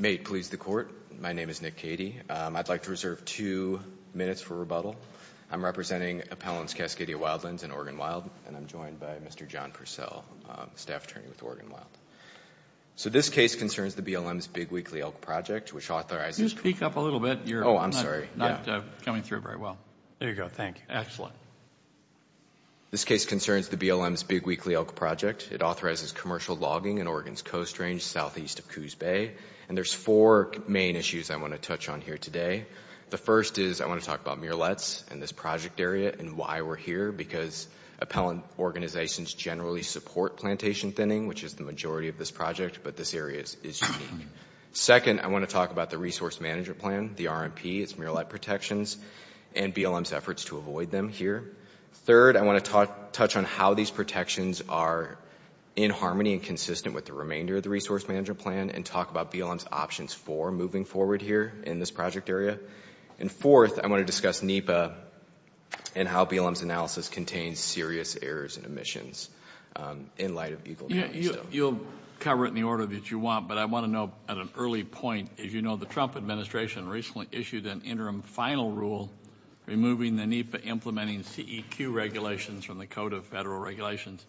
May it please the Court, my name is Nick Cady. I'd like to reserve two minutes for rebuttal. I'm representing Appellants Cascadia Wildlands and Oregon Wild, and I'm joined by Mr. John Purcell, Staff Attorney with Oregon Wild. So this case concerns the BLM's Big Weekly Elk Project, which authorizes commercial logging in Oregon's Coast Range southeast of Coos Bay, and there's four main issues I want to touch on here today. The first is I want to talk about murelets and this project area and why we're here, because appellant organizations generally support plantation thinning, which is the majority of this project, but this area is unique. Second, I want to talk about the Resource Management Plan, the RMP, its murelet protections, and BLM's efforts to avoid them here. Third, I want to touch on how these protections are in harmony and consistent with the remainder of the Resource Management Plan and talk about BLM's options for moving forward here in this project area. And fourth, I want to discuss NEPA and how BLM's analysis contains serious errors and omissions in light of Eagle County. You'll cover it in the order that you want, but I want to know at an early point, as you know, the Trump administration recently issued an interim final rule removing the NEPA implementing CEQ regulations from the Code of Federal Regulations.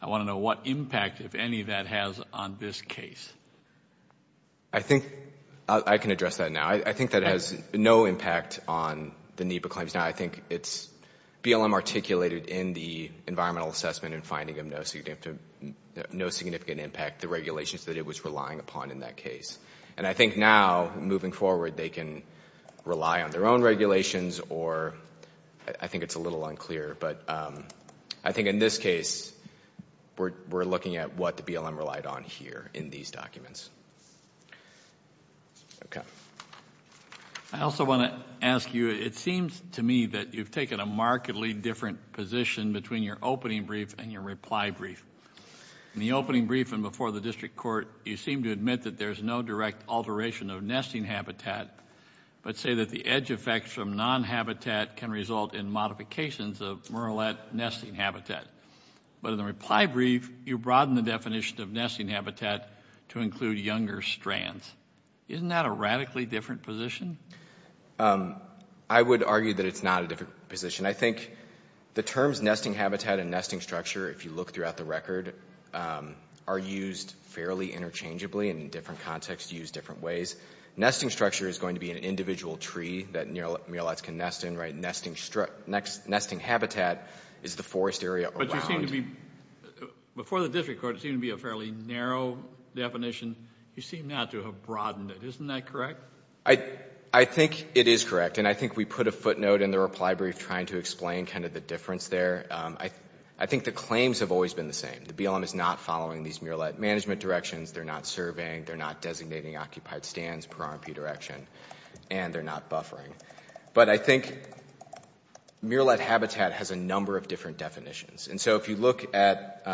I want to know what impact, if any, that has on this case. I think I can address that now. I think that has no impact on the NEPA claims now. I think it's BLM articulated in the environmental assessment in finding of no significant impact the regulations that it was relying upon in that case. And I think now, moving forward, they can rely on their own regulations or I think it's a little unclear, but I think in this case, we're looking at what the BLM relied on here in these documents. I also want to ask you, it seems to me that you've taken a markedly different position between your opening brief and your reply brief. In the opening brief and before the district court, you seem to admit that there's no direct alteration of nesting habitat, but say that the edge effects from non-habitat can result in modifications of murrelet nesting habitat. But in the reply brief, you broaden the definition of nesting habitat to include younger strands. Isn't that a radically different position? I would argue that it's not a different position. I think the terms nesting habitat and nesting structure, if you look throughout the record, are used fairly interchangeably and in different contexts used different ways. Nesting structure is going to be an individual tree that murrelets can nest in, right? Nesting habitat is the forest area around. Before the district court, it seemed to be a fairly narrow definition. You seem not to have broadened it. Isn't that correct? I think it is correct and I think we put a footnote in the reply brief trying to explain kind of the difference there. I think the claims have always been the same. The BLM is not following these murrelet management directions, they're not surveying, they're not designating occupied stands per RMP direction, and they're not buffering. But I think murrelet habitat has a number of different definitions. And so if you look at,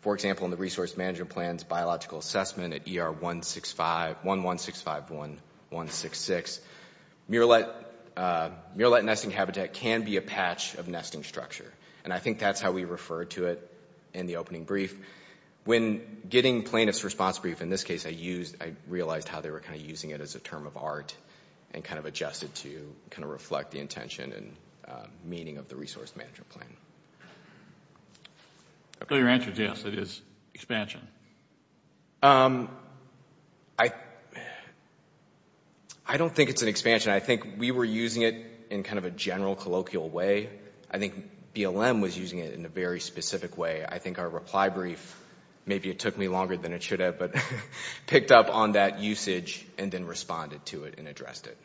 for example, in the resource management plan's biological assessment at ER 11651166, murrelet nesting habitat can be a patch of nesting structure. And I think that's how we referred to it in the opening brief. When getting plaintiff's response brief, in this case, I realized how they were kind of using it as a term of art and kind of adjusted to kind of reflect the intention and meaning of the resource management plan. So your answer is yes, it is expansion. I don't think it's an expansion. I think we were using it in kind of a general colloquial way. I think BLM was using it in a very specific way. I think our reply brief, maybe it took me longer than it should have, but picked up on that usage and then responded to it and addressed it.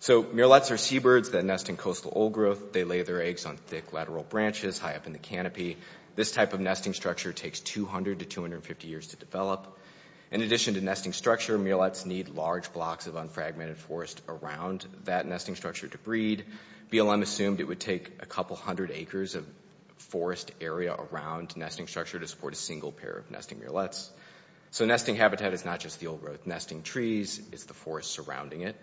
So murrelets are seabirds that nest in coastal old growth. They lay their eggs on thick lateral branches high up in the canopy. This type of nesting structure takes 200 to 250 years to develop. In addition to nesting structure, murrelets need large blocks of unfragmented forest around that nesting structure to breed. BLM assumed it would take a couple hundred acres of forest area around nesting structure to support a single pair of nesting murrelets. So nesting habitat is not just the old growth nesting trees, it's the forest surrounding it.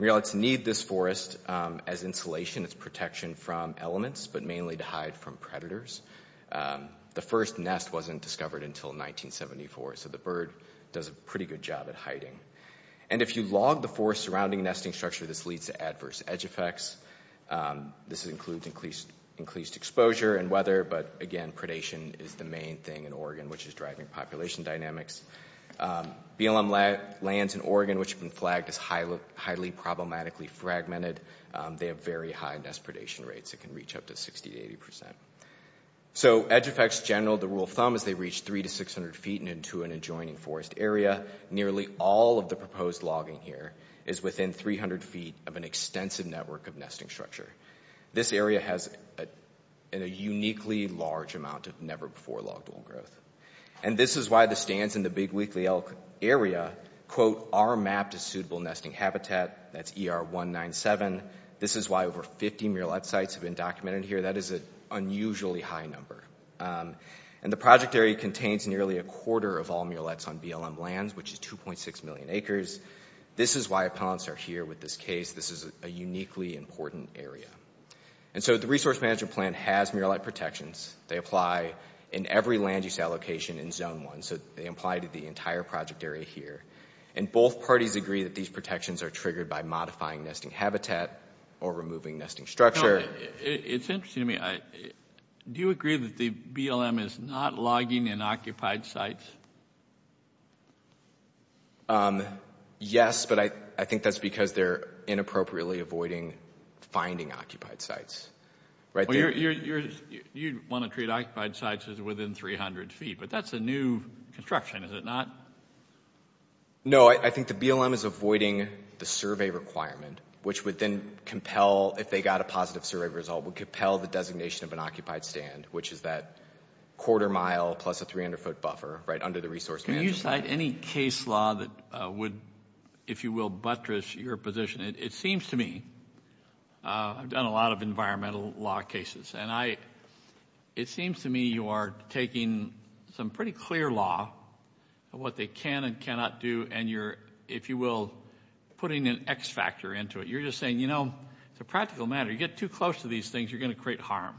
Murrelets need this forest as insulation, as protection from elements, but mainly to hide from predators. The first nest wasn't discovered until 1974, so the bird does a pretty good job at hiding. And if you log the forest surrounding nesting structure, this leads to adverse edge effects. This includes increased exposure and weather, but again, predation is the main thing in Oregon, which is driving population dynamics. BLM lands in Oregon, which have been flagged as highly problematically fragmented, they have very high nest predation rates. It can reach up to 60 to 80 percent. So edge effects general to rule of thumb is they reach 300 to 600 feet and into an adjoining forest area, nearly all of the proposed logging here is within 300 feet of an extensive network of nesting structure. This area has a uniquely large amount of never-before-logged old growth. And this is why the stands in the Big Weekly Elk area, quote, are mapped as suitable nesting habitat. That's ER 197. This is why over 50 murrelet sites have been documented here. That is an unusually high number. And the project area contains nearly a quarter of all murrelets on BLM lands, which is 2.6 million acres. This is why appellants are here with this case. This is a uniquely important area. And so the Resource Management Plan has murrelet protections. They apply in every land use allocation in Zone 1. So they apply to the entire project area here. And both parties agree that these protections are triggered by modifying nesting habitat or removing nesting structure. It's interesting to me. Do you agree that the BLM is not logging in occupied sites? Yes, but I think that's because they're inappropriately avoiding finding occupied sites. You'd want to treat occupied sites as within 300 feet, but that's a new construction, is it not? No, I think the BLM is avoiding the survey requirement, which would then compel if they got a survey result, would compel the designation of an occupied stand, which is that quarter mile plus a 300 foot buffer, right, under the Resource Management Plan. Can you cite any case law that would, if you will, buttress your position? It seems to me, I've done a lot of environmental law cases, and it seems to me you are taking some pretty clear law of what they can and cannot do, and you're, if you will, putting an X factor into it. You're just saying, you know, it's a practical matter. You get too close to these things, you're going to create harm.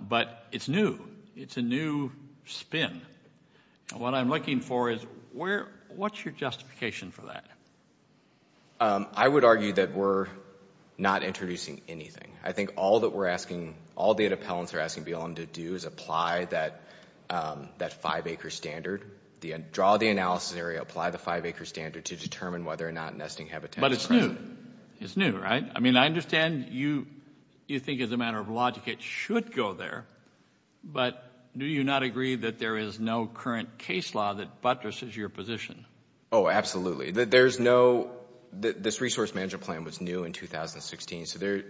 But it's new. It's a new spin. And what I'm looking for is where, what's your justification for that? I would argue that we're not introducing anything. I think all that we're asking, all data appellants are asking BLM to do is apply that five acre standard, draw the analysis area, apply the five acre standard to determine whether or not nesting habitat is present. But it's new. It's new, right? I mean, I understand you think as a matter of logic it should go there, but do you not agree that there is no current case law that buttresses your position? Oh, absolutely. There's no, this Resource Management Plan was new in 2016, so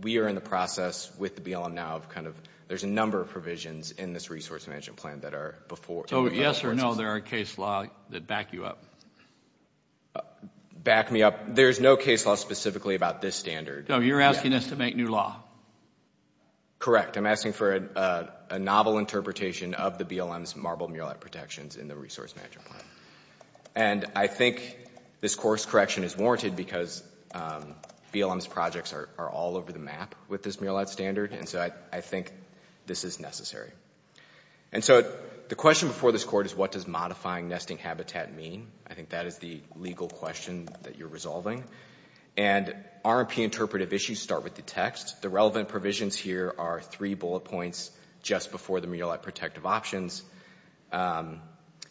we are in the process with the BLM now of kind of, there's a number of provisions in this Resource Management Plan that are before. So, yes or no, there are case law that back you up? Back me up? There's no case law specifically about this standard. So, you're asking us to make new law? Correct. I'm asking for a novel interpretation of the BLM's marble murelite protections in the Resource Management Plan. And I think this course correction is warranted because BLM's projects are all over the map with this murelite standard, and so I think this is necessary. And so, the question before this court is what does modifying nesting habitat mean? I think that is the legal question that you're resolving. And R&P interpretive issues start with the text. The relevant provisions here are three bullet points just before the murelite protective options.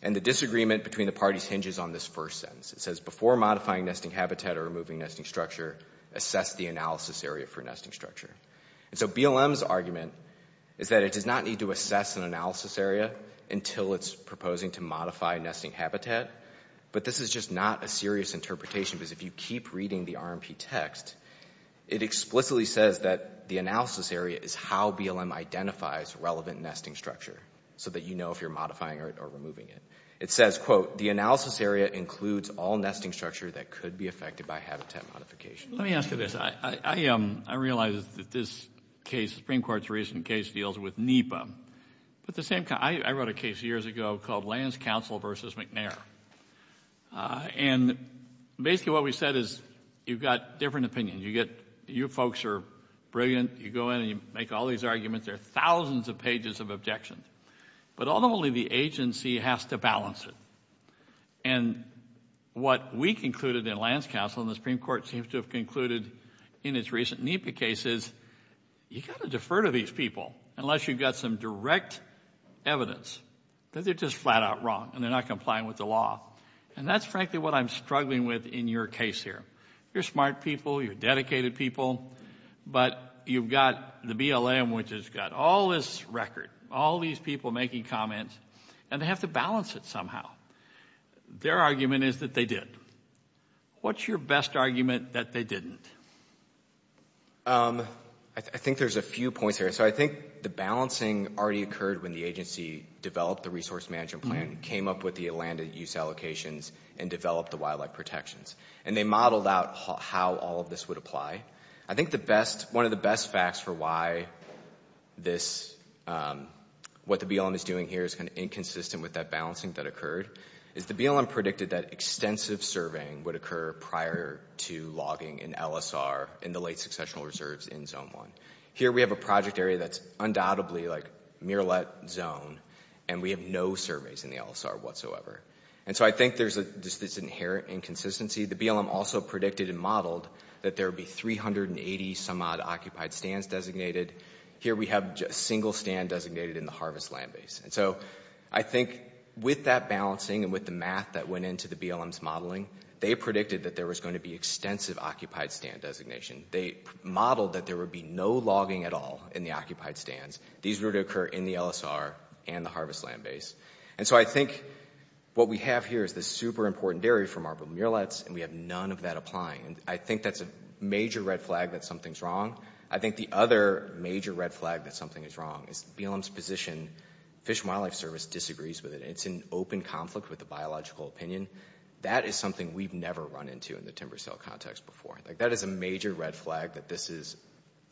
And the disagreement between the parties hinges on this first sentence. It says, before modifying nesting habitat or removing nesting structure, assess the analysis area for nesting structure. And so, BLM's argument is that it does not need to assess an analysis area until it's proposing to modify nesting habitat. But this is just not a serious interpretation because if you keep reading the R&P text, it explicitly says that the analysis area is how BLM identifies relevant nesting structure so that you know if you're modifying it or removing it. It says, quote, the analysis area includes all nesting structure that could be affected by habitat modification. Let me ask you this. I realize that this case, the Supreme Court's recent case, deals with NEPA. I wrote a case years ago called Lands Council v. McNair. And basically what we said is you've got different opinions. You folks are brilliant. You go in and you make all these arguments. There are thousands of pages of objections. But ultimately, the agency has to balance it. And what we concluded in Lands Council and the Supreme Court seems to have concluded in its recent NEPA cases, you've got to defer to these people unless you've got some direct evidence that they're just flat out wrong and they're not complying with the law. And that's frankly what I'm struggling with in your case here. You're smart people. You're dedicated people. But you've got the BLM, which has got all this record, all these people making comments, and they have to balance it somehow. Their argument is that they did. What's your best argument that they didn't? I think there's a few points here. So I think the balancing already occurred when the agency developed the resource management plan, came up with the land use allocations, and developed the wildlife protections. And they modeled out how all of this would apply. I think one of the best facts for why what the BLM is doing here is kind of inconsistent with that balancing that occurred, is the BLM predicted that extensive surveying would occur prior to logging in LSR in the late successional reserves in Zone 1. Here we have a project area that's undoubtedly like mirelet zone, and we have no surveys in the LSR whatsoever. And so I think there's this inherent inconsistency. The BLM also predicted and modeled that there would be 380 some odd occupied stands designated. Here we have a single stand designated in the harvest land base. And so I think with that balancing and with the math that went into the BLM's modeling, they predicted that there was going to be extensive occupied stand designation. They modeled that there would be no logging at all in the occupied stands. These were to occur in the LSR and the harvest land base. And so I think what we have here is this super important area for marble mirelets, and we have none of that applying. And I think that's a major red flag that something's wrong. I think the other major red flag that something is wrong is BLM's position, Fish and Wildlife Service disagrees with it. It's in open conflict with the biological opinion. That is something we've never run into in the timber sale context before. Like that is a major red flag that this is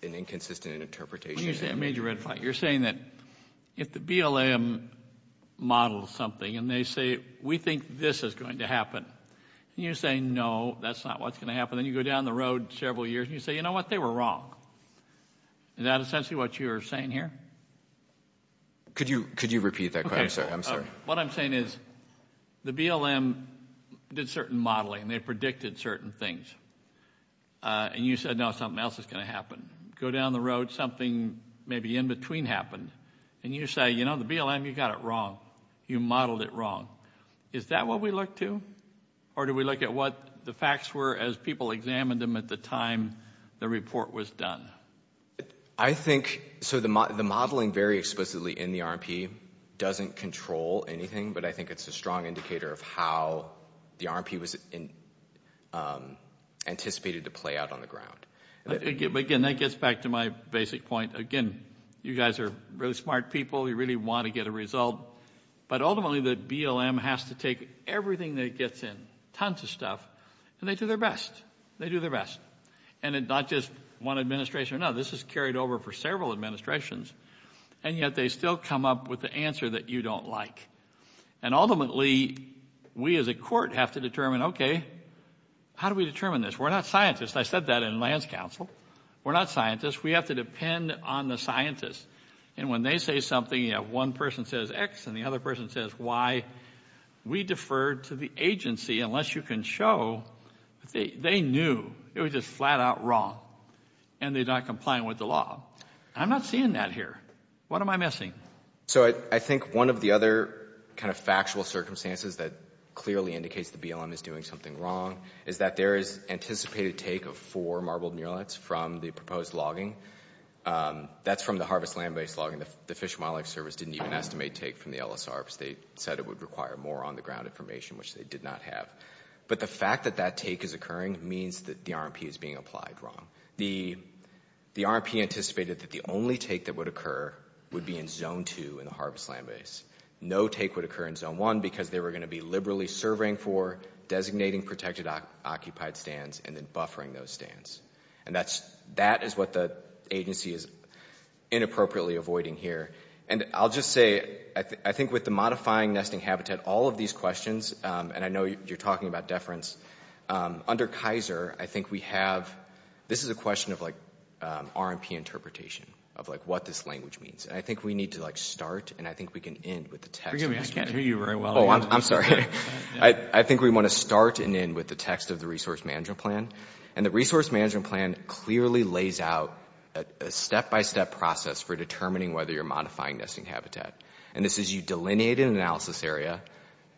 an inconsistent interpretation. When you say a major red flag, you're saying that if the BLM models something and they say we think this is going to happen, and you're saying no, that's not what's going to happen, then you go down the road several years and you say, you know what, they were wrong. Is that essentially what you're saying here? Could you repeat that question? I'm sorry. What I'm saying is the BLM did certain modeling. They predicted certain things. And you said no, something else is going to happen. Go down the road, something maybe in between happened. And you say, you know, the BLM, you got it wrong. You modeled it wrong. Is that what we look to? Or do we look at what the facts were as people examined them at the time the report was done? I think, so the modeling very explicitly in the RMP doesn't control anything, but I think it's a strong indicator of how the RMP was anticipated to play out on the ground. Again, that gets back to my basic point. Again, you guys are really smart people. You really want to get a result. But ultimately the BLM has to take everything that it gets in, tons of stuff, and they do their best. They do their best. And it's not just one administration or another. This is carried over for several administrations. And yet they still come up with the answer that you don't like. And ultimately, we as a court have to determine, okay, how do we determine this? We're not scientists. I said that in lands council. We're not scientists. We have to depend on the scientists. And when they say something, you know, one person says X and the other person says Y, we defer to the agency unless you can show that they knew it was just flat out wrong and they're not complying with the law. I'm not seeing that here. What am I missing? So I think one of the other kind of factual circumstances that clearly indicates the BLM is doing something wrong is that there is anticipated take of four marbled murrelets from the proposed logging. That's from the harvest land-based logging. The Fish and Wildlife Service didn't even estimate take from the LSR because they said it would require more on the ground information, which they did not have. But the fact that that take is occurring means that the RMP is being applied wrong. The RMP anticipated that the only take that would occur would be in zone two in the harvest land-based. No take would occur in zone one because they were going to be liberally serving for designating protected occupied stands and then buffering those stands. And that is what the agency is inappropriately avoiding here. And I'll just say, I think with the modifying nesting habitat, all of these questions, and I know you're talking about deference, under Kaiser, I think we have, this is a question of like RMP interpretation, of like what this language means. And I think we need to like start and I think we can end with the text. Forgive me, I can't hear you very well. I'm sorry. I think we want to start and end with the text of the resource management plan. And the resource management plan clearly lays out a step-by-step process for determining whether you're modifying nesting habitat. And this is you delineate an analysis area.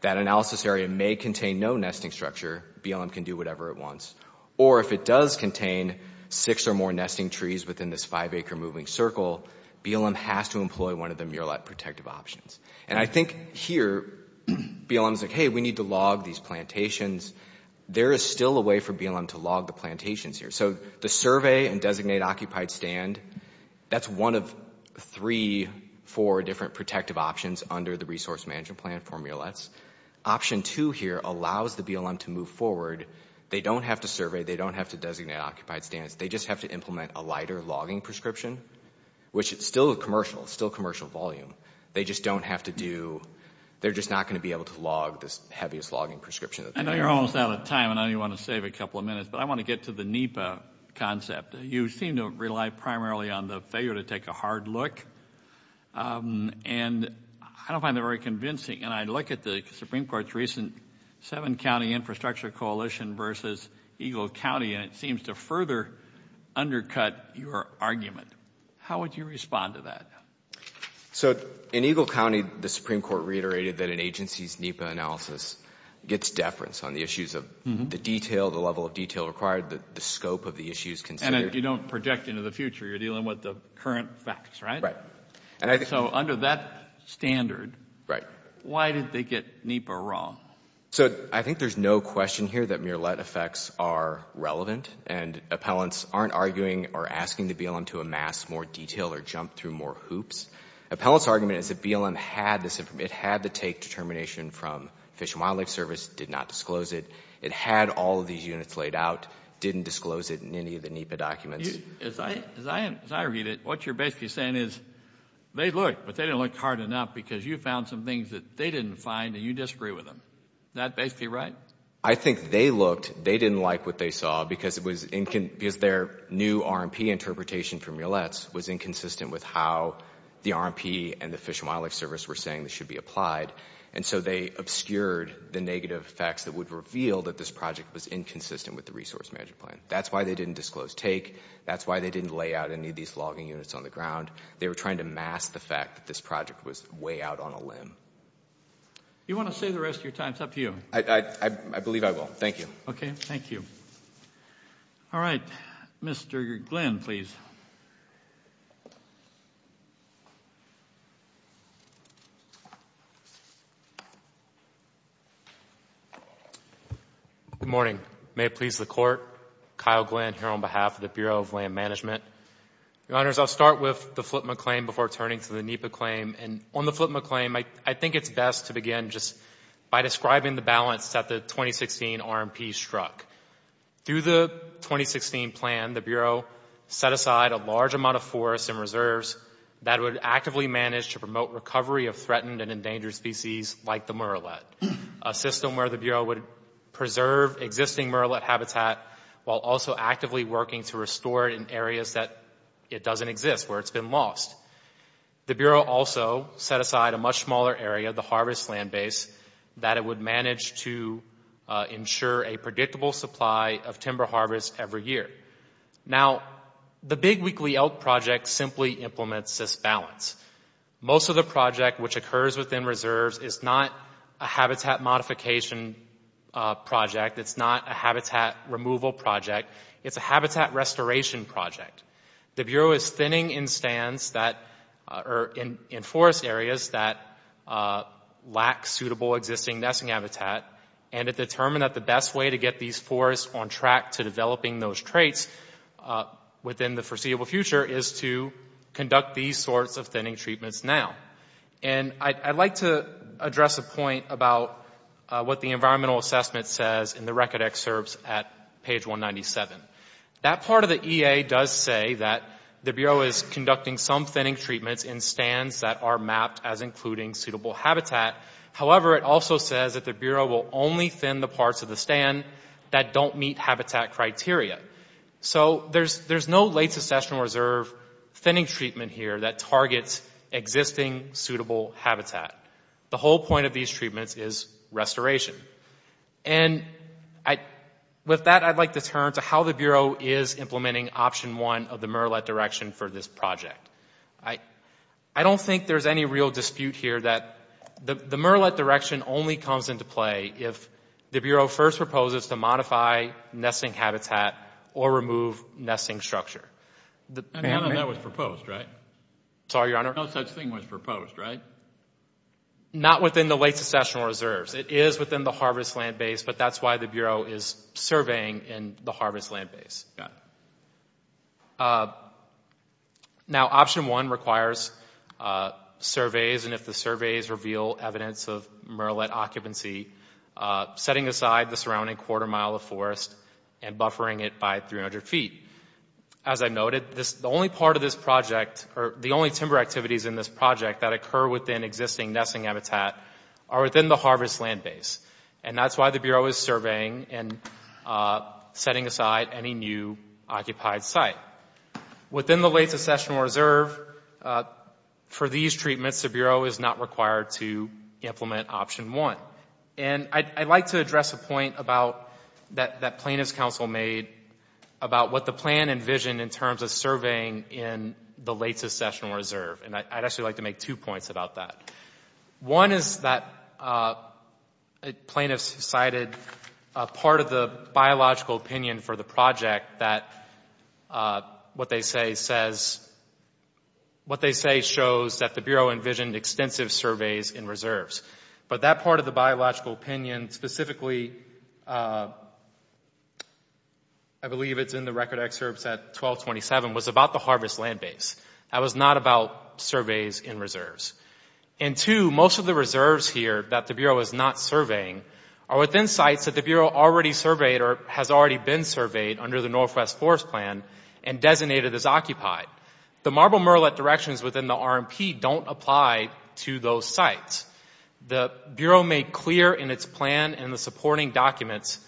That analysis area may contain no nesting structure. BLM can do whatever it wants. Or if it does contain six or more nesting trees within this five-acre moving circle, BLM has to employ one of the Murelet protective options. And I think here, BLM is like, hey, we need to log these plantations. There is still a way for BLM to log the plantations here. So the survey and designate occupied stand, that's one of three, four different protective options under the resource management plan for Murelets. Option two here allows the BLM to move forward. They don't have to survey. They don't have to designate occupied stands. They just have to implement a lighter logging prescription, which is still commercial, still commercial volume. They just don't have to do, they're just not going to be able to log this heaviest logging prescription. I know you're almost out of time. I know you want to save a couple of minutes. But I want to get to the NEPA concept. You seem to rely primarily on the failure to take a hard look. And I don't find that very convincing. And I look at the Supreme Court's recent seven-county infrastructure coalition versus Eagle County, and it seems to further undercut your argument. How would you respond to that? So in Eagle County, the Supreme Court reiterated that an agency's NEPA analysis gets deference on the issues of the detail, the level of detail required, the scope of the issues considered. And if you don't project into the future, you're dealing with the current facts, right? Right. So under that standard, why did they get NEPA wrong? So I think there's no question here that Murelet effects are relevant. And appellants aren't arguing or asking the BLM to amass more detail or jump through more hoops. Appellants' argument is that BLM had this, it had to take determination from Fish and Wildlife Service, did not disclose it, it had all of these units laid out, didn't disclose it in any of the NEPA documents. As I read it, what you're basically saying is they looked, but they didn't look hard enough because you found some things that they didn't find and you disagree with them. That basically right? I think they looked, they didn't like what they saw because their new RMP interpretation from Murelet's was inconsistent with how the RMP and the Fish and Wildlife Service were saying this should be applied. And so they obscured the negative effects that would reveal that this project was inconsistent with the Resource Management Plan. That's why they didn't disclose take, that's why they didn't lay out any of these logging units on the ground. They were trying to amass the fact that this project was way out on a limb. You want to say the rest of your time? It's up to you. I believe I will. Thank you. Okay. Thank you. All right. Mr. Glenn, please. Good morning. May it please the Court. Kyle Glenn here on behalf of the Bureau of Land Management. Your Honors, I'll start with the Flippman claim before turning to the NEPA claim. And on the Flippman claim, I think it's best to begin just by describing the balance that the 2016 RMP struck. Through the 2016 plan, the Bureau set aside a large amount of forests and reserves that would actively manage to promote recovery of threatened and endangered species like the Murelet, a system where the Bureau would preserve existing Murelet habitat while also actively working to restore it in areas that it doesn't exist, where it's been lost. The Bureau also set aside a much smaller area, the harvest land base, that it would manage to ensure a predictable supply of timber harvest every year. Now, the Big Weekly Elk Project simply implements this balance. Most of the project which occurs within reserves is not a habitat modification project. It's not a habitat removal project. It's a habitat restoration project. The Bureau is thinning in stands that are in forest areas that lack suitable existing nesting habitat. And it determined that the best way to get these forests on track to developing those traits within the foreseeable future is to conduct these sorts of thinning treatments now. And I'd like to address a point about what the environmental assessment says in the record excerpts at page 197. That part of the EA does say that the Bureau is conducting some thinning treatments in stands that are mapped as including suitable habitat. However, it also says that the Bureau will only thin the parts of the stand that don't meet habitat criteria. So there's no late secession reserve thinning treatment here that targets existing suitable habitat. The whole point of these treatments is restoration. And with that, I'd like to turn to how the Bureau is implementing option one of the MERLET direction for this project. I don't think there's any real dispute here that the MERLET direction only comes into play if the Bureau first proposes to modify nesting habitat or remove nesting structure. And none of that was proposed, right? Sorry, Your Honor? No such thing was proposed, right? Not within the late secessional reserves. It is within the harvest land base, but that's why the Bureau is surveying in the harvest land base. Now option one requires surveys and if the surveys reveal evidence of MERLET occupancy, setting aside the surrounding quarter mile of forest and buffering it by 300 feet. As I noted, the only part of this project or the only timber activities in this project that occur within existing nesting habitat are within the harvest land base. And that's why the Bureau is surveying and setting aside any new occupied site. Within the late secessional reserve, for these treatments, the Bureau is not required to implement option one. And I'd like to address a point that plaintiff's counsel made about what the plan envisioned in terms of surveying in the late secessional reserve. And I'd actually like to make two points about that. One is that plaintiffs cited a part of the biological opinion for the project that what they say says, what they say shows that the Bureau envisioned extensive surveys in reserves. But that part of the biological opinion, specifically, I believe it's in the record excerpts at 1227, was about the harvest land base. That was not about surveys in reserves. And two, most of the reserves here that the Bureau is not surveying are within sites that the Bureau already surveyed or has already been surveyed under the Northwest Forest Plan and designated as occupied. The marble murrelet directions within the RMP don't apply to those sites. The Bureau made clear in its plan and the supporting documents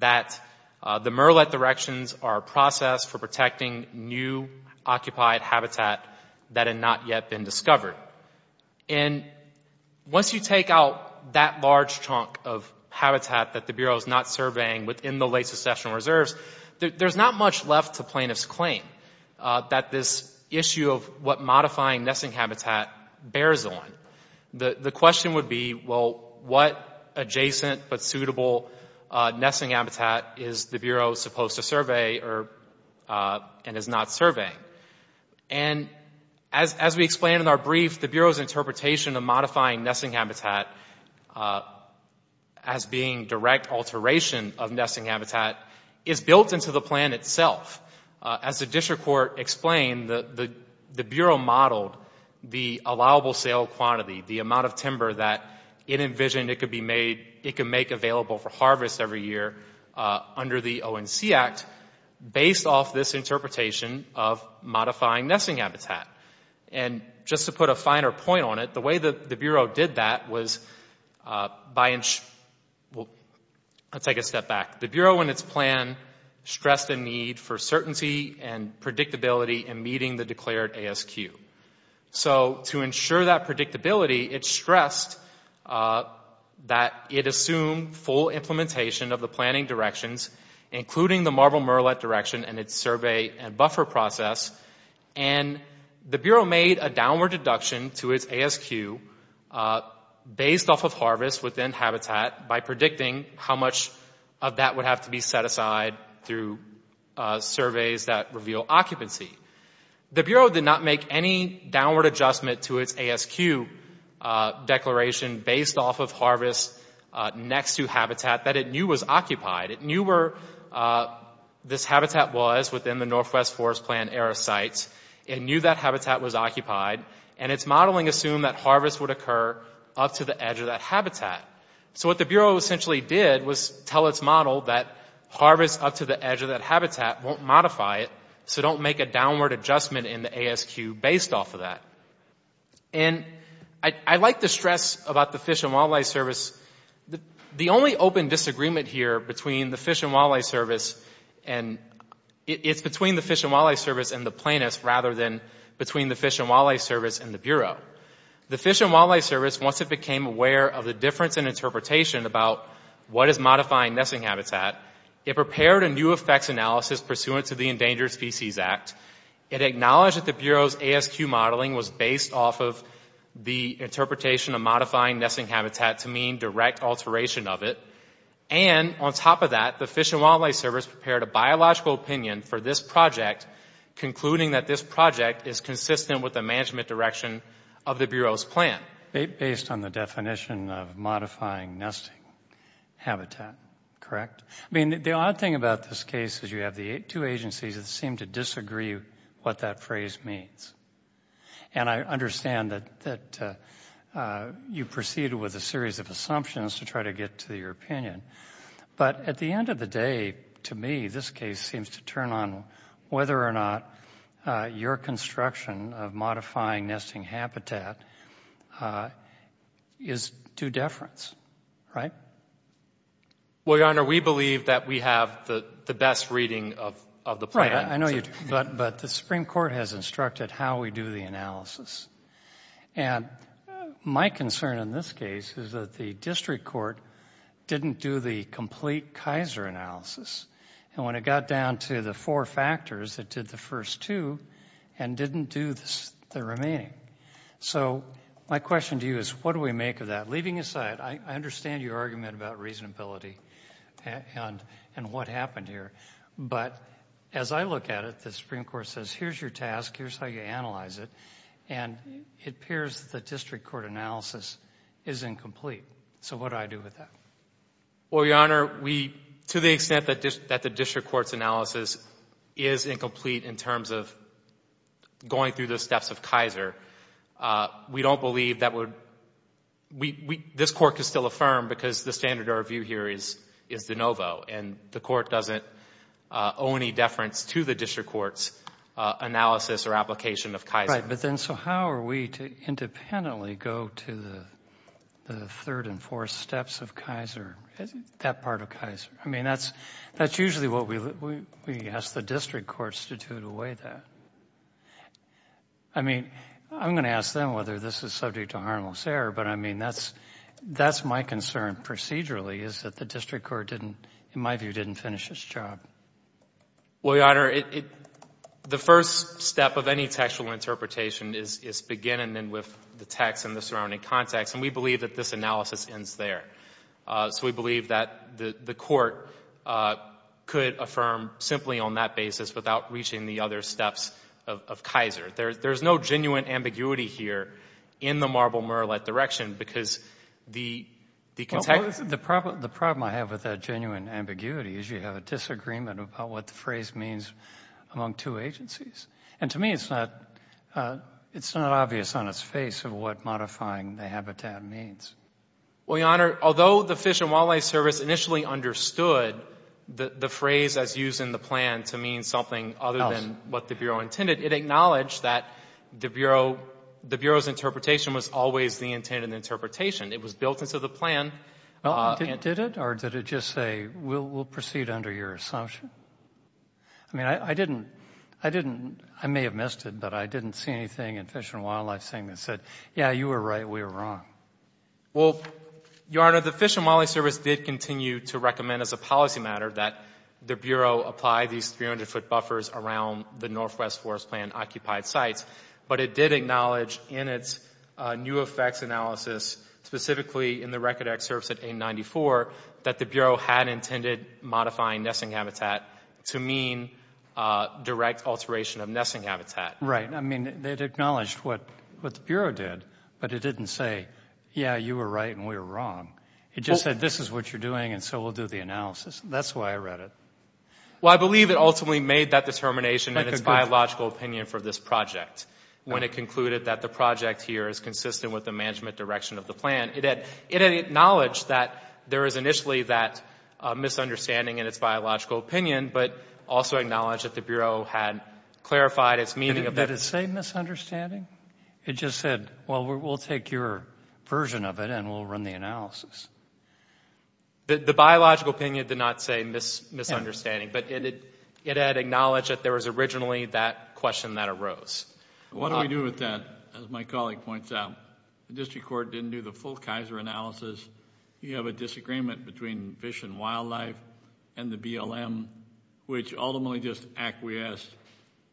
that the murrelet directions are a process for protecting new occupied habitat that had not yet been discovered. And once you take out that large chunk of habitat that the Bureau is not surveying within the late secessional reserves, there's not much left to plaintiff's claim that this issue of what modifying nesting habitat bears on. The question would be, well, what adjacent but suitable nesting habitat is the Bureau supposed to survey and is not surveying? And as we explained in our brief, the Bureau's interpretation of modifying nesting habitat as being direct alteration of nesting habitat is built into the plan itself. As the District Court explained, the Bureau modeled the allowable sale quantity, the amount of timber that it could make available for harvest every year under the ONC Act based off this interpretation of modifying nesting habitat. And just to put a finer point on it, the way the Bureau did that was by, well, I'll take a step back. The Bureau in its plan stressed the need for certainty and predictability in meeting the declared ASQ. So to ensure that predictability, it stressed that it assumed full implementation of the planning directions, including the Marble Murrellet direction and its survey and buffer process. And the Bureau made a downward deduction to its ASQ based off of harvest within habitat by predicting how much of that would have to be set aside through surveys that reveal occupancy. The Bureau did not make any downward adjustment to its ASQ declaration based off of harvest next to habitat that it knew was occupied. It knew where this habitat was within the Northwest Forest Plan area sites. It knew that habitat was occupied. And its modeling assumed that harvest would occur up to the edge of that habitat. So what the Bureau essentially did was tell its model that harvest up to the edge of that habitat won't modify it, so don't make a downward adjustment in the ASQ based off of that. And I'd like to stress about the Fish and Wildlife Service, the only open disagreement here between the Fish and Wildlife Service and, it's between the Fish and Wildlife Service and the plaintiffs rather than between the Fish and Wildlife Service and the Bureau. The Fish and Wildlife Service, once it became aware of the difference in interpretation about what is modifying nesting habitat, it prepared a new effects analysis pursuant to the Endangered Species Act. It acknowledged that the Bureau's ASQ modeling was based off of the interpretation of modifying nesting habitat to mean direct alteration of it. And on top of that, the Fish and Wildlife Service prepared a biological opinion for this project, concluding that this project is consistent with the management direction of the Bureau's plan. Based on the definition of modifying nesting habitat, correct? I mean, the odd thing about this case is you have the two agencies that seem to disagree what that phrase means. And I understand that you proceeded with a series of assumptions to try to get to your opinion. But at the end of the day, to me, this case seems to turn on whether or not your construction of modifying nesting habitat is due deference, right? Well, Your Honor, we believe that we have the best reading of the plan. Right. I know you do. But the Supreme Court has instructed how we do the analysis. And my concern in this case is that the district court didn't do the complete Kaiser analysis. And when it got down to the four factors, it did the first two and didn't do the remaining. So my question to you is, what do we make of that? Leaving aside, I understand your argument about reasonability and what happened here. But as I look at it, the Supreme Court says, here's your task, here's how you analyze it, and it appears that the district court analysis is incomplete. So what do I do with that? Well, Your Honor, to the extent that the district court's analysis is incomplete in terms of going through the steps of Kaiser, we don't believe that would... this Court can still affirm because the standard of review here is de novo. And the Court doesn't owe any deference to the district court's analysis or application of Kaiser. Right. But then, so how are we to independently go to the third and fourth steps of Kaiser, that part of Kaiser? I mean, that's usually what we ask the district courts to do to weigh that. I mean, I'm going to ask them whether this is subject to harmless error, but I mean, that's my concern procedurally, is that the district court didn't, in my view, didn't finish its job. Well, Your Honor, the first step of any textual interpretation is beginning then with the text and the surrounding context, and we believe that this analysis ends there. So we believe that the Court could affirm simply on that basis without reaching the other steps of Kaiser. There's no genuine ambiguity here in the Marble Murrellette direction because the... Well, the problem I have with that genuine ambiguity is you have a disagreement about what the phrase means among two agencies. And to me, it's not obvious on its face of what modifying the habitat means. Well, Your Honor, although the Fish and Wildlife Service initially understood the phrase as used in the plan to mean something other than what the Bureau intended, it acknowledged that the Bureau's interpretation was always the intended interpretation. It was built into the plan. Well, did it, or did it just say, we'll proceed under your assumption? I mean, I didn't, I may have missed it, but I didn't see anything in Fish and Wildlife saying that said, yeah, you were right, we were wrong. Well, Your Honor, the Fish and Wildlife Service did continue to recommend as a policy matter that the Bureau apply these 300-foot buffers around the Northwest Forest Plan occupied sites. But it did acknowledge in its new effects analysis, specifically in the record excerpts at 894, that the Bureau had intended modifying nesting habitat to mean direct alteration of nesting habitat. Right. I mean, it acknowledged what the Bureau did, but it didn't say, yeah, you were right and we were wrong. It just said, this is what you're doing, and so we'll do the analysis. That's why I read it. Well, I believe it ultimately made that determination in its biological opinion for this project when it concluded that the project here is consistent with the management direction of the plan. It had acknowledged that there is initially that misunderstanding in its biological opinion, but also acknowledged that the Bureau had clarified its meaning of that. Did it say misunderstanding? It just said, well, we'll take your version of it and we'll run the analysis. The biological opinion did not say misunderstanding, but it had acknowledged that there was originally that question that arose. What do we do with that? As my colleague points out, the District Court didn't do the full Geyser analysis. You have a disagreement between Fish and Wildlife and the BLM, which ultimately just acquiesced.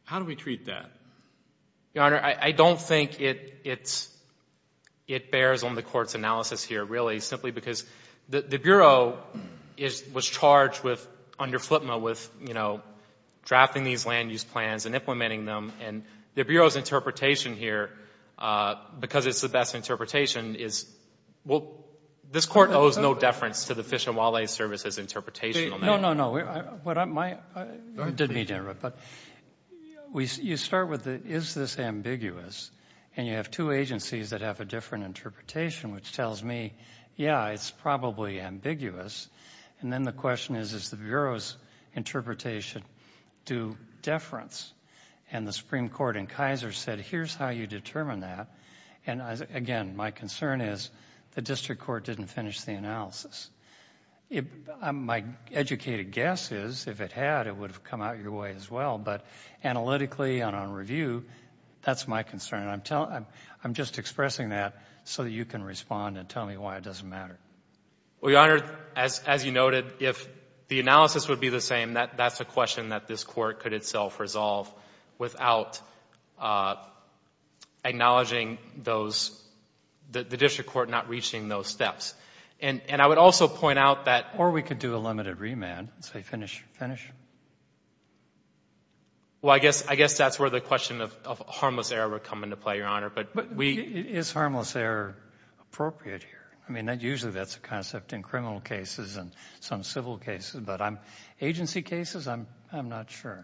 How do we treat that? Your Honor, I don't think it bears on the Court's analysis here, really, simply because the Bureau was charged under FLTMA with, you know, drafting these land use plans and implementing them. And the Bureau's interpretation here, because it's the best interpretation, is, well, this Court owes no deference to the Fish and Wildlife Service's interpretation on that. No, no, no. What I'm, my, I didn't mean to interrupt, but you start with the, is this ambiguous? And you have two agencies that have a different interpretation, which tells me, yeah, it's probably ambiguous. And then the question is, does the Bureau's interpretation do deference? And the Supreme Court in Geyser said, here's how you determine that. And, again, my concern is the District Court didn't finish the analysis. My educated guess is, if it had, it would have come out your way as well. But analytically and on review, that's my concern. And I'm just expressing that so that you can respond and tell me why it doesn't matter. Well, Your Honor, as you noted, if the analysis would be the same, that's a question that this Court could itself resolve without acknowledging those, the District Court not reaching those steps. And I would also point out that Or we could do a limited remand and say, finish, finish. Well, I guess that's where the question of harmless error would come into play, Your Honor. But we Is harmless error appropriate here? I mean, usually that's a concept in criminal cases and some civil cases. But agency cases, I'm not sure.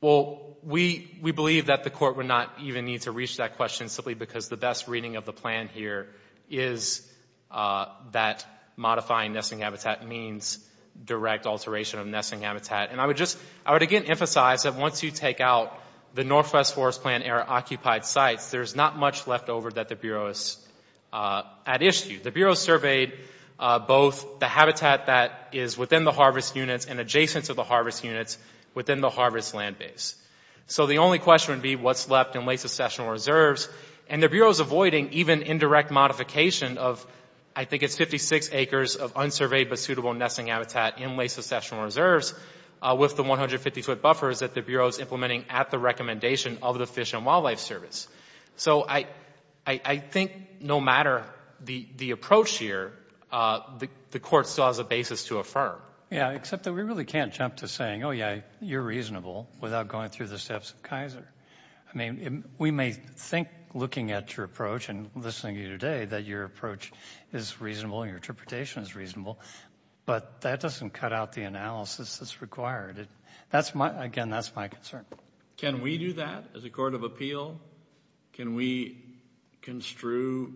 Well, we believe that the Court would not even need to reach that question simply because the best reading of the plan here is that modifying nesting habitat means direct alteration of nesting habitat. And I would just, I would again emphasize that once you take out the Northwest Forest Plan-era occupied sites, there's not much left over that the Bureau is at issue. The Bureau surveyed both the habitat that is within the harvest units and adjacent to the harvest units within the harvest land base. So the only question would be what's left in late-successional reserves. And the Bureau is avoiding even indirect modification of, I think it's 56 acres of unsurveyed but suitable nesting habitat in late-successional of the Fish and Wildlife Service. So I think no matter the approach here, the Court still has a basis to affirm. Yeah, except that we really can't jump to saying, oh, yeah, you're reasonable without going through the steps of Kaiser. I mean, we may think looking at your approach and listening to you today that your approach is reasonable and your interpretation is reasonable, but that doesn't cut out the analysis that's required. That's my, again, that's my concern. Can we do that as a Court of Appeal? Can we construe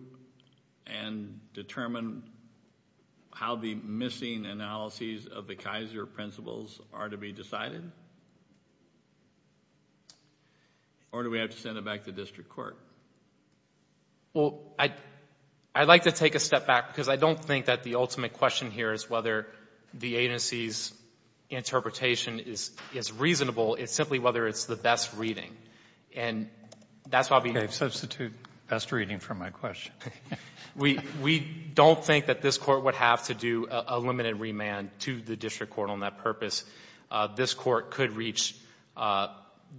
and determine how the missing analyses of the Kaiser principles are to be decided? Or do we have to send it back to district court? Well, I'd like to take a step back because I don't think that the ultimate question here is whether the agency's interpretation is reasonable. It's simply whether it's the best reading. And that's why we Okay, substitute best reading for my question. We don't think that this Court would have to do a limited remand to the district court on that purpose. This Court could reach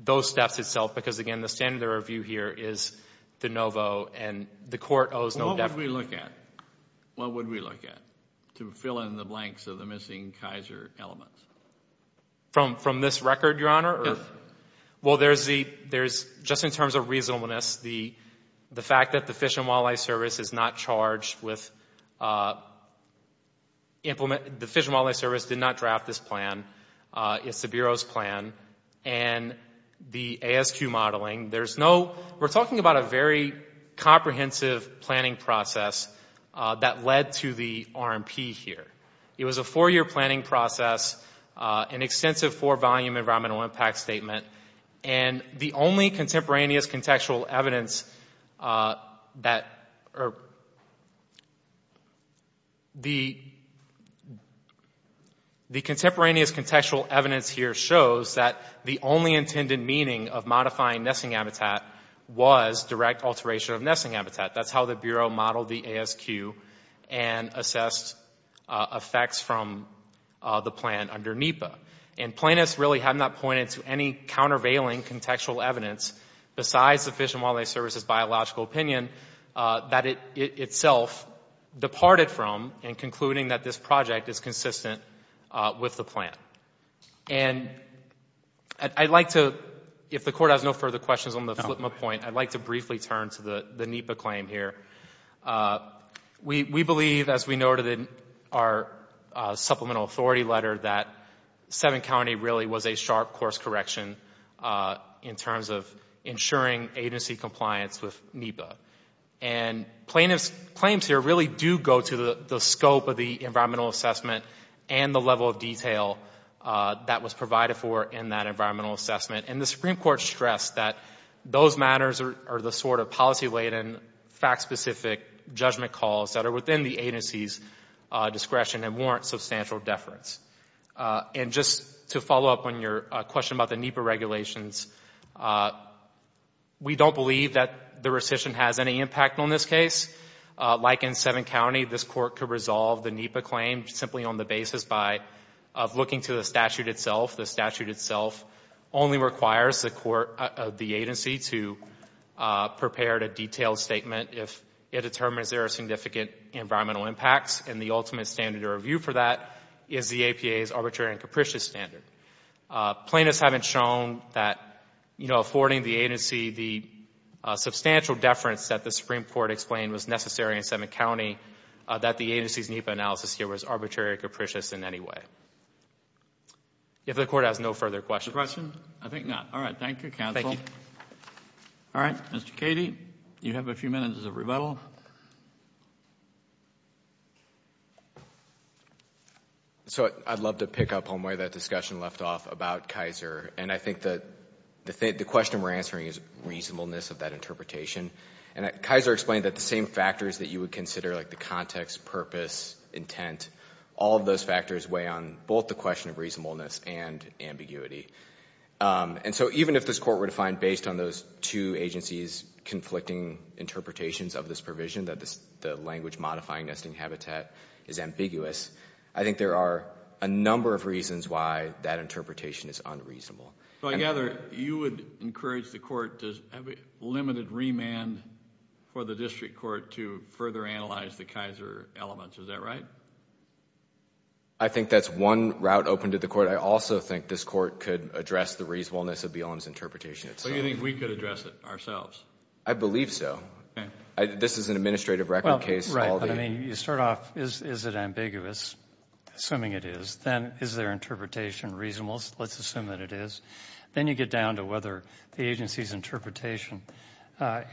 those steps itself because, again, the standard of review here is de novo, and the Court owes no definite What would we look at to fill in the blanks of the missing Kaiser elements? From this record, Your Honor? Yes. Well, there's the, just in terms of reasonableness, the fact that the Fish and Wildlife Service is not charged with, the Fish and Wildlife Service did not draft this plan. It's the Bureau's plan. And the ASQ modeling, there's no, we're talking about a very comprehensive planning process that led to the RMP here. It was a four-year planning process, an extensive four-volume environmental impact statement, and the only contemporaneous contextual evidence that, or the contemporaneous contextual evidence here shows that the only intended meaning of modifying nesting habitat was direct alteration of nesting habitat. That's how the Bureau modeled the ASQ and assessed effects from the plan under NEPA. And plaintiffs really have not pointed to any countervailing contextual evidence besides the Fish and Wildlife Service's biological opinion that it itself departed from in concluding that this project is consistent with the plan. And I'd like to, if the Court has no further questions on the FLIPMA point, I'd like to briefly turn to the NEPA claim here. We believe, as we noted in our supplemental authority letter, that Seven County really was a sharp course correction in terms of ensuring agency compliance with NEPA. And plaintiffs' claims here really do go to the scope of the environmental assessment and the level of detail that was provided for in that environmental assessment. And the Supreme Court stressed that those matters are the sort of policy-laden, fact-specific judgment calls that are within the agency's discretion and warrant substantial deference. And just to follow up on your question about the NEPA regulations, we don't believe that the rescission has any impact on this case. Like in Seven County, this Court could resolve the NEPA claim simply on the basis of looking to the statute itself. The statute itself only requires the agency to prepare a detailed statement if it determines there are significant environmental impacts. And the ultimate standard to review for that is the APA's arbitrary and capricious standard. Plaintiffs haven't shown that affording the agency the substantial deference that the Supreme Court explained was necessary in Seven County, that the agency's NEPA analysis here was arbitrary or capricious in any way. If the Court has no further questions. The question? I think not. All right. Thank you, counsel. Thank you. All right. Mr. Cady, you have a few minutes of rebuttal. So I'd love to pick up on where that discussion left off about Kaiser. And I think that the question we're answering is reasonableness of that interpretation. And Kaiser explained that the same factors that you would consider, like the context, purpose, intent, all of those factors weigh on both the question of reasonableness and ambiguity. And so even if this Court were to find based on those two agencies' conflicting interpretations of this provision that the language modifying nesting habitat is ambiguous, I think there are a number of reasons why that interpretation is unreasonable. So I gather you would encourage the Court to have a limited remand for the District Court to further analyze the Kaiser elements. Is that right? I think that's one route open to the Court. I also think this Court could address the reasonableness of the OLM's interpretation itself. So you think we could address it ourselves? I believe so. This is an administrative record case. Well, right. But I mean, you start off, is it ambiguous? Assuming it is. Then is their interpretation reasonable? Let's assume that it is. Then you get down to whether the agency's interpretation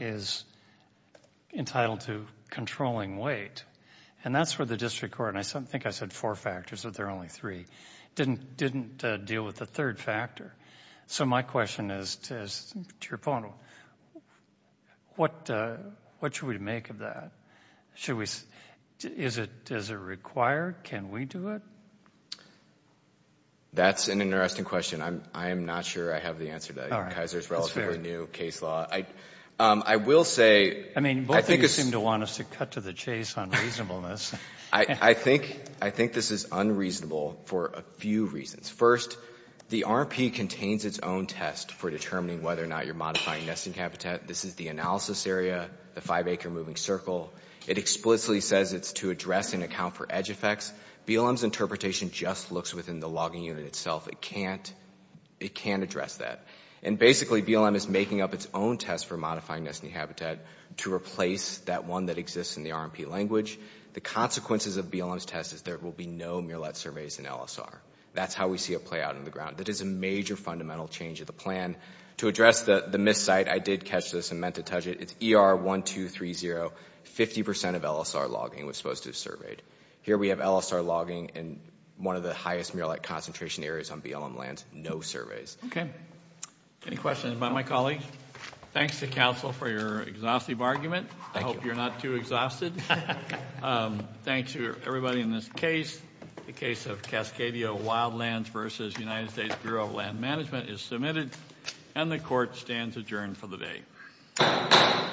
is entitled to controlling weight. And that's where the District Court – and I think I said four factors, but there are only three – didn't deal with the third factor. So my question is, to your point, what should we make of that? Is it required? Can we do it? That's an interesting question. I am not sure I have the answer to Kaiser's relatively new case law. I will say – I mean, both of you seem to want us to cut to the chase on reasonableness. I think this is unreasonable for a few reasons. First, the RMP contains its own test for determining whether or not you're modifying nesting habitat. This is the analysis area, the five-acre moving circle. It explicitly says it's to address and account for edge effects. BLM's interpretation just looks within the logging unit itself. It can't address that. And basically, BLM is making up its own test for modifying nesting habitat to replace that one that exists in the RMP language. The consequences of BLM's test is there will be no mirelet surveys in LSR. That's how we see it play out on the ground. That is a major fundamental change of the plan. To address the miscite, I did catch this and meant to touch it. It's ER1230. Fifty percent of LSR logging was supposed to be surveyed. Here we have LSR logging in one of the highest mirelet concentration areas on BLM lands. No surveys. Okay. Any questions about my colleague? Thanks to counsel for your exhaustive argument. I hope you're not too exhausted. Thanks to everybody in this case. The case of Cascadia Wildlands v. United States Bureau of Land Management is submitted, and the Court stands adjourned for the day.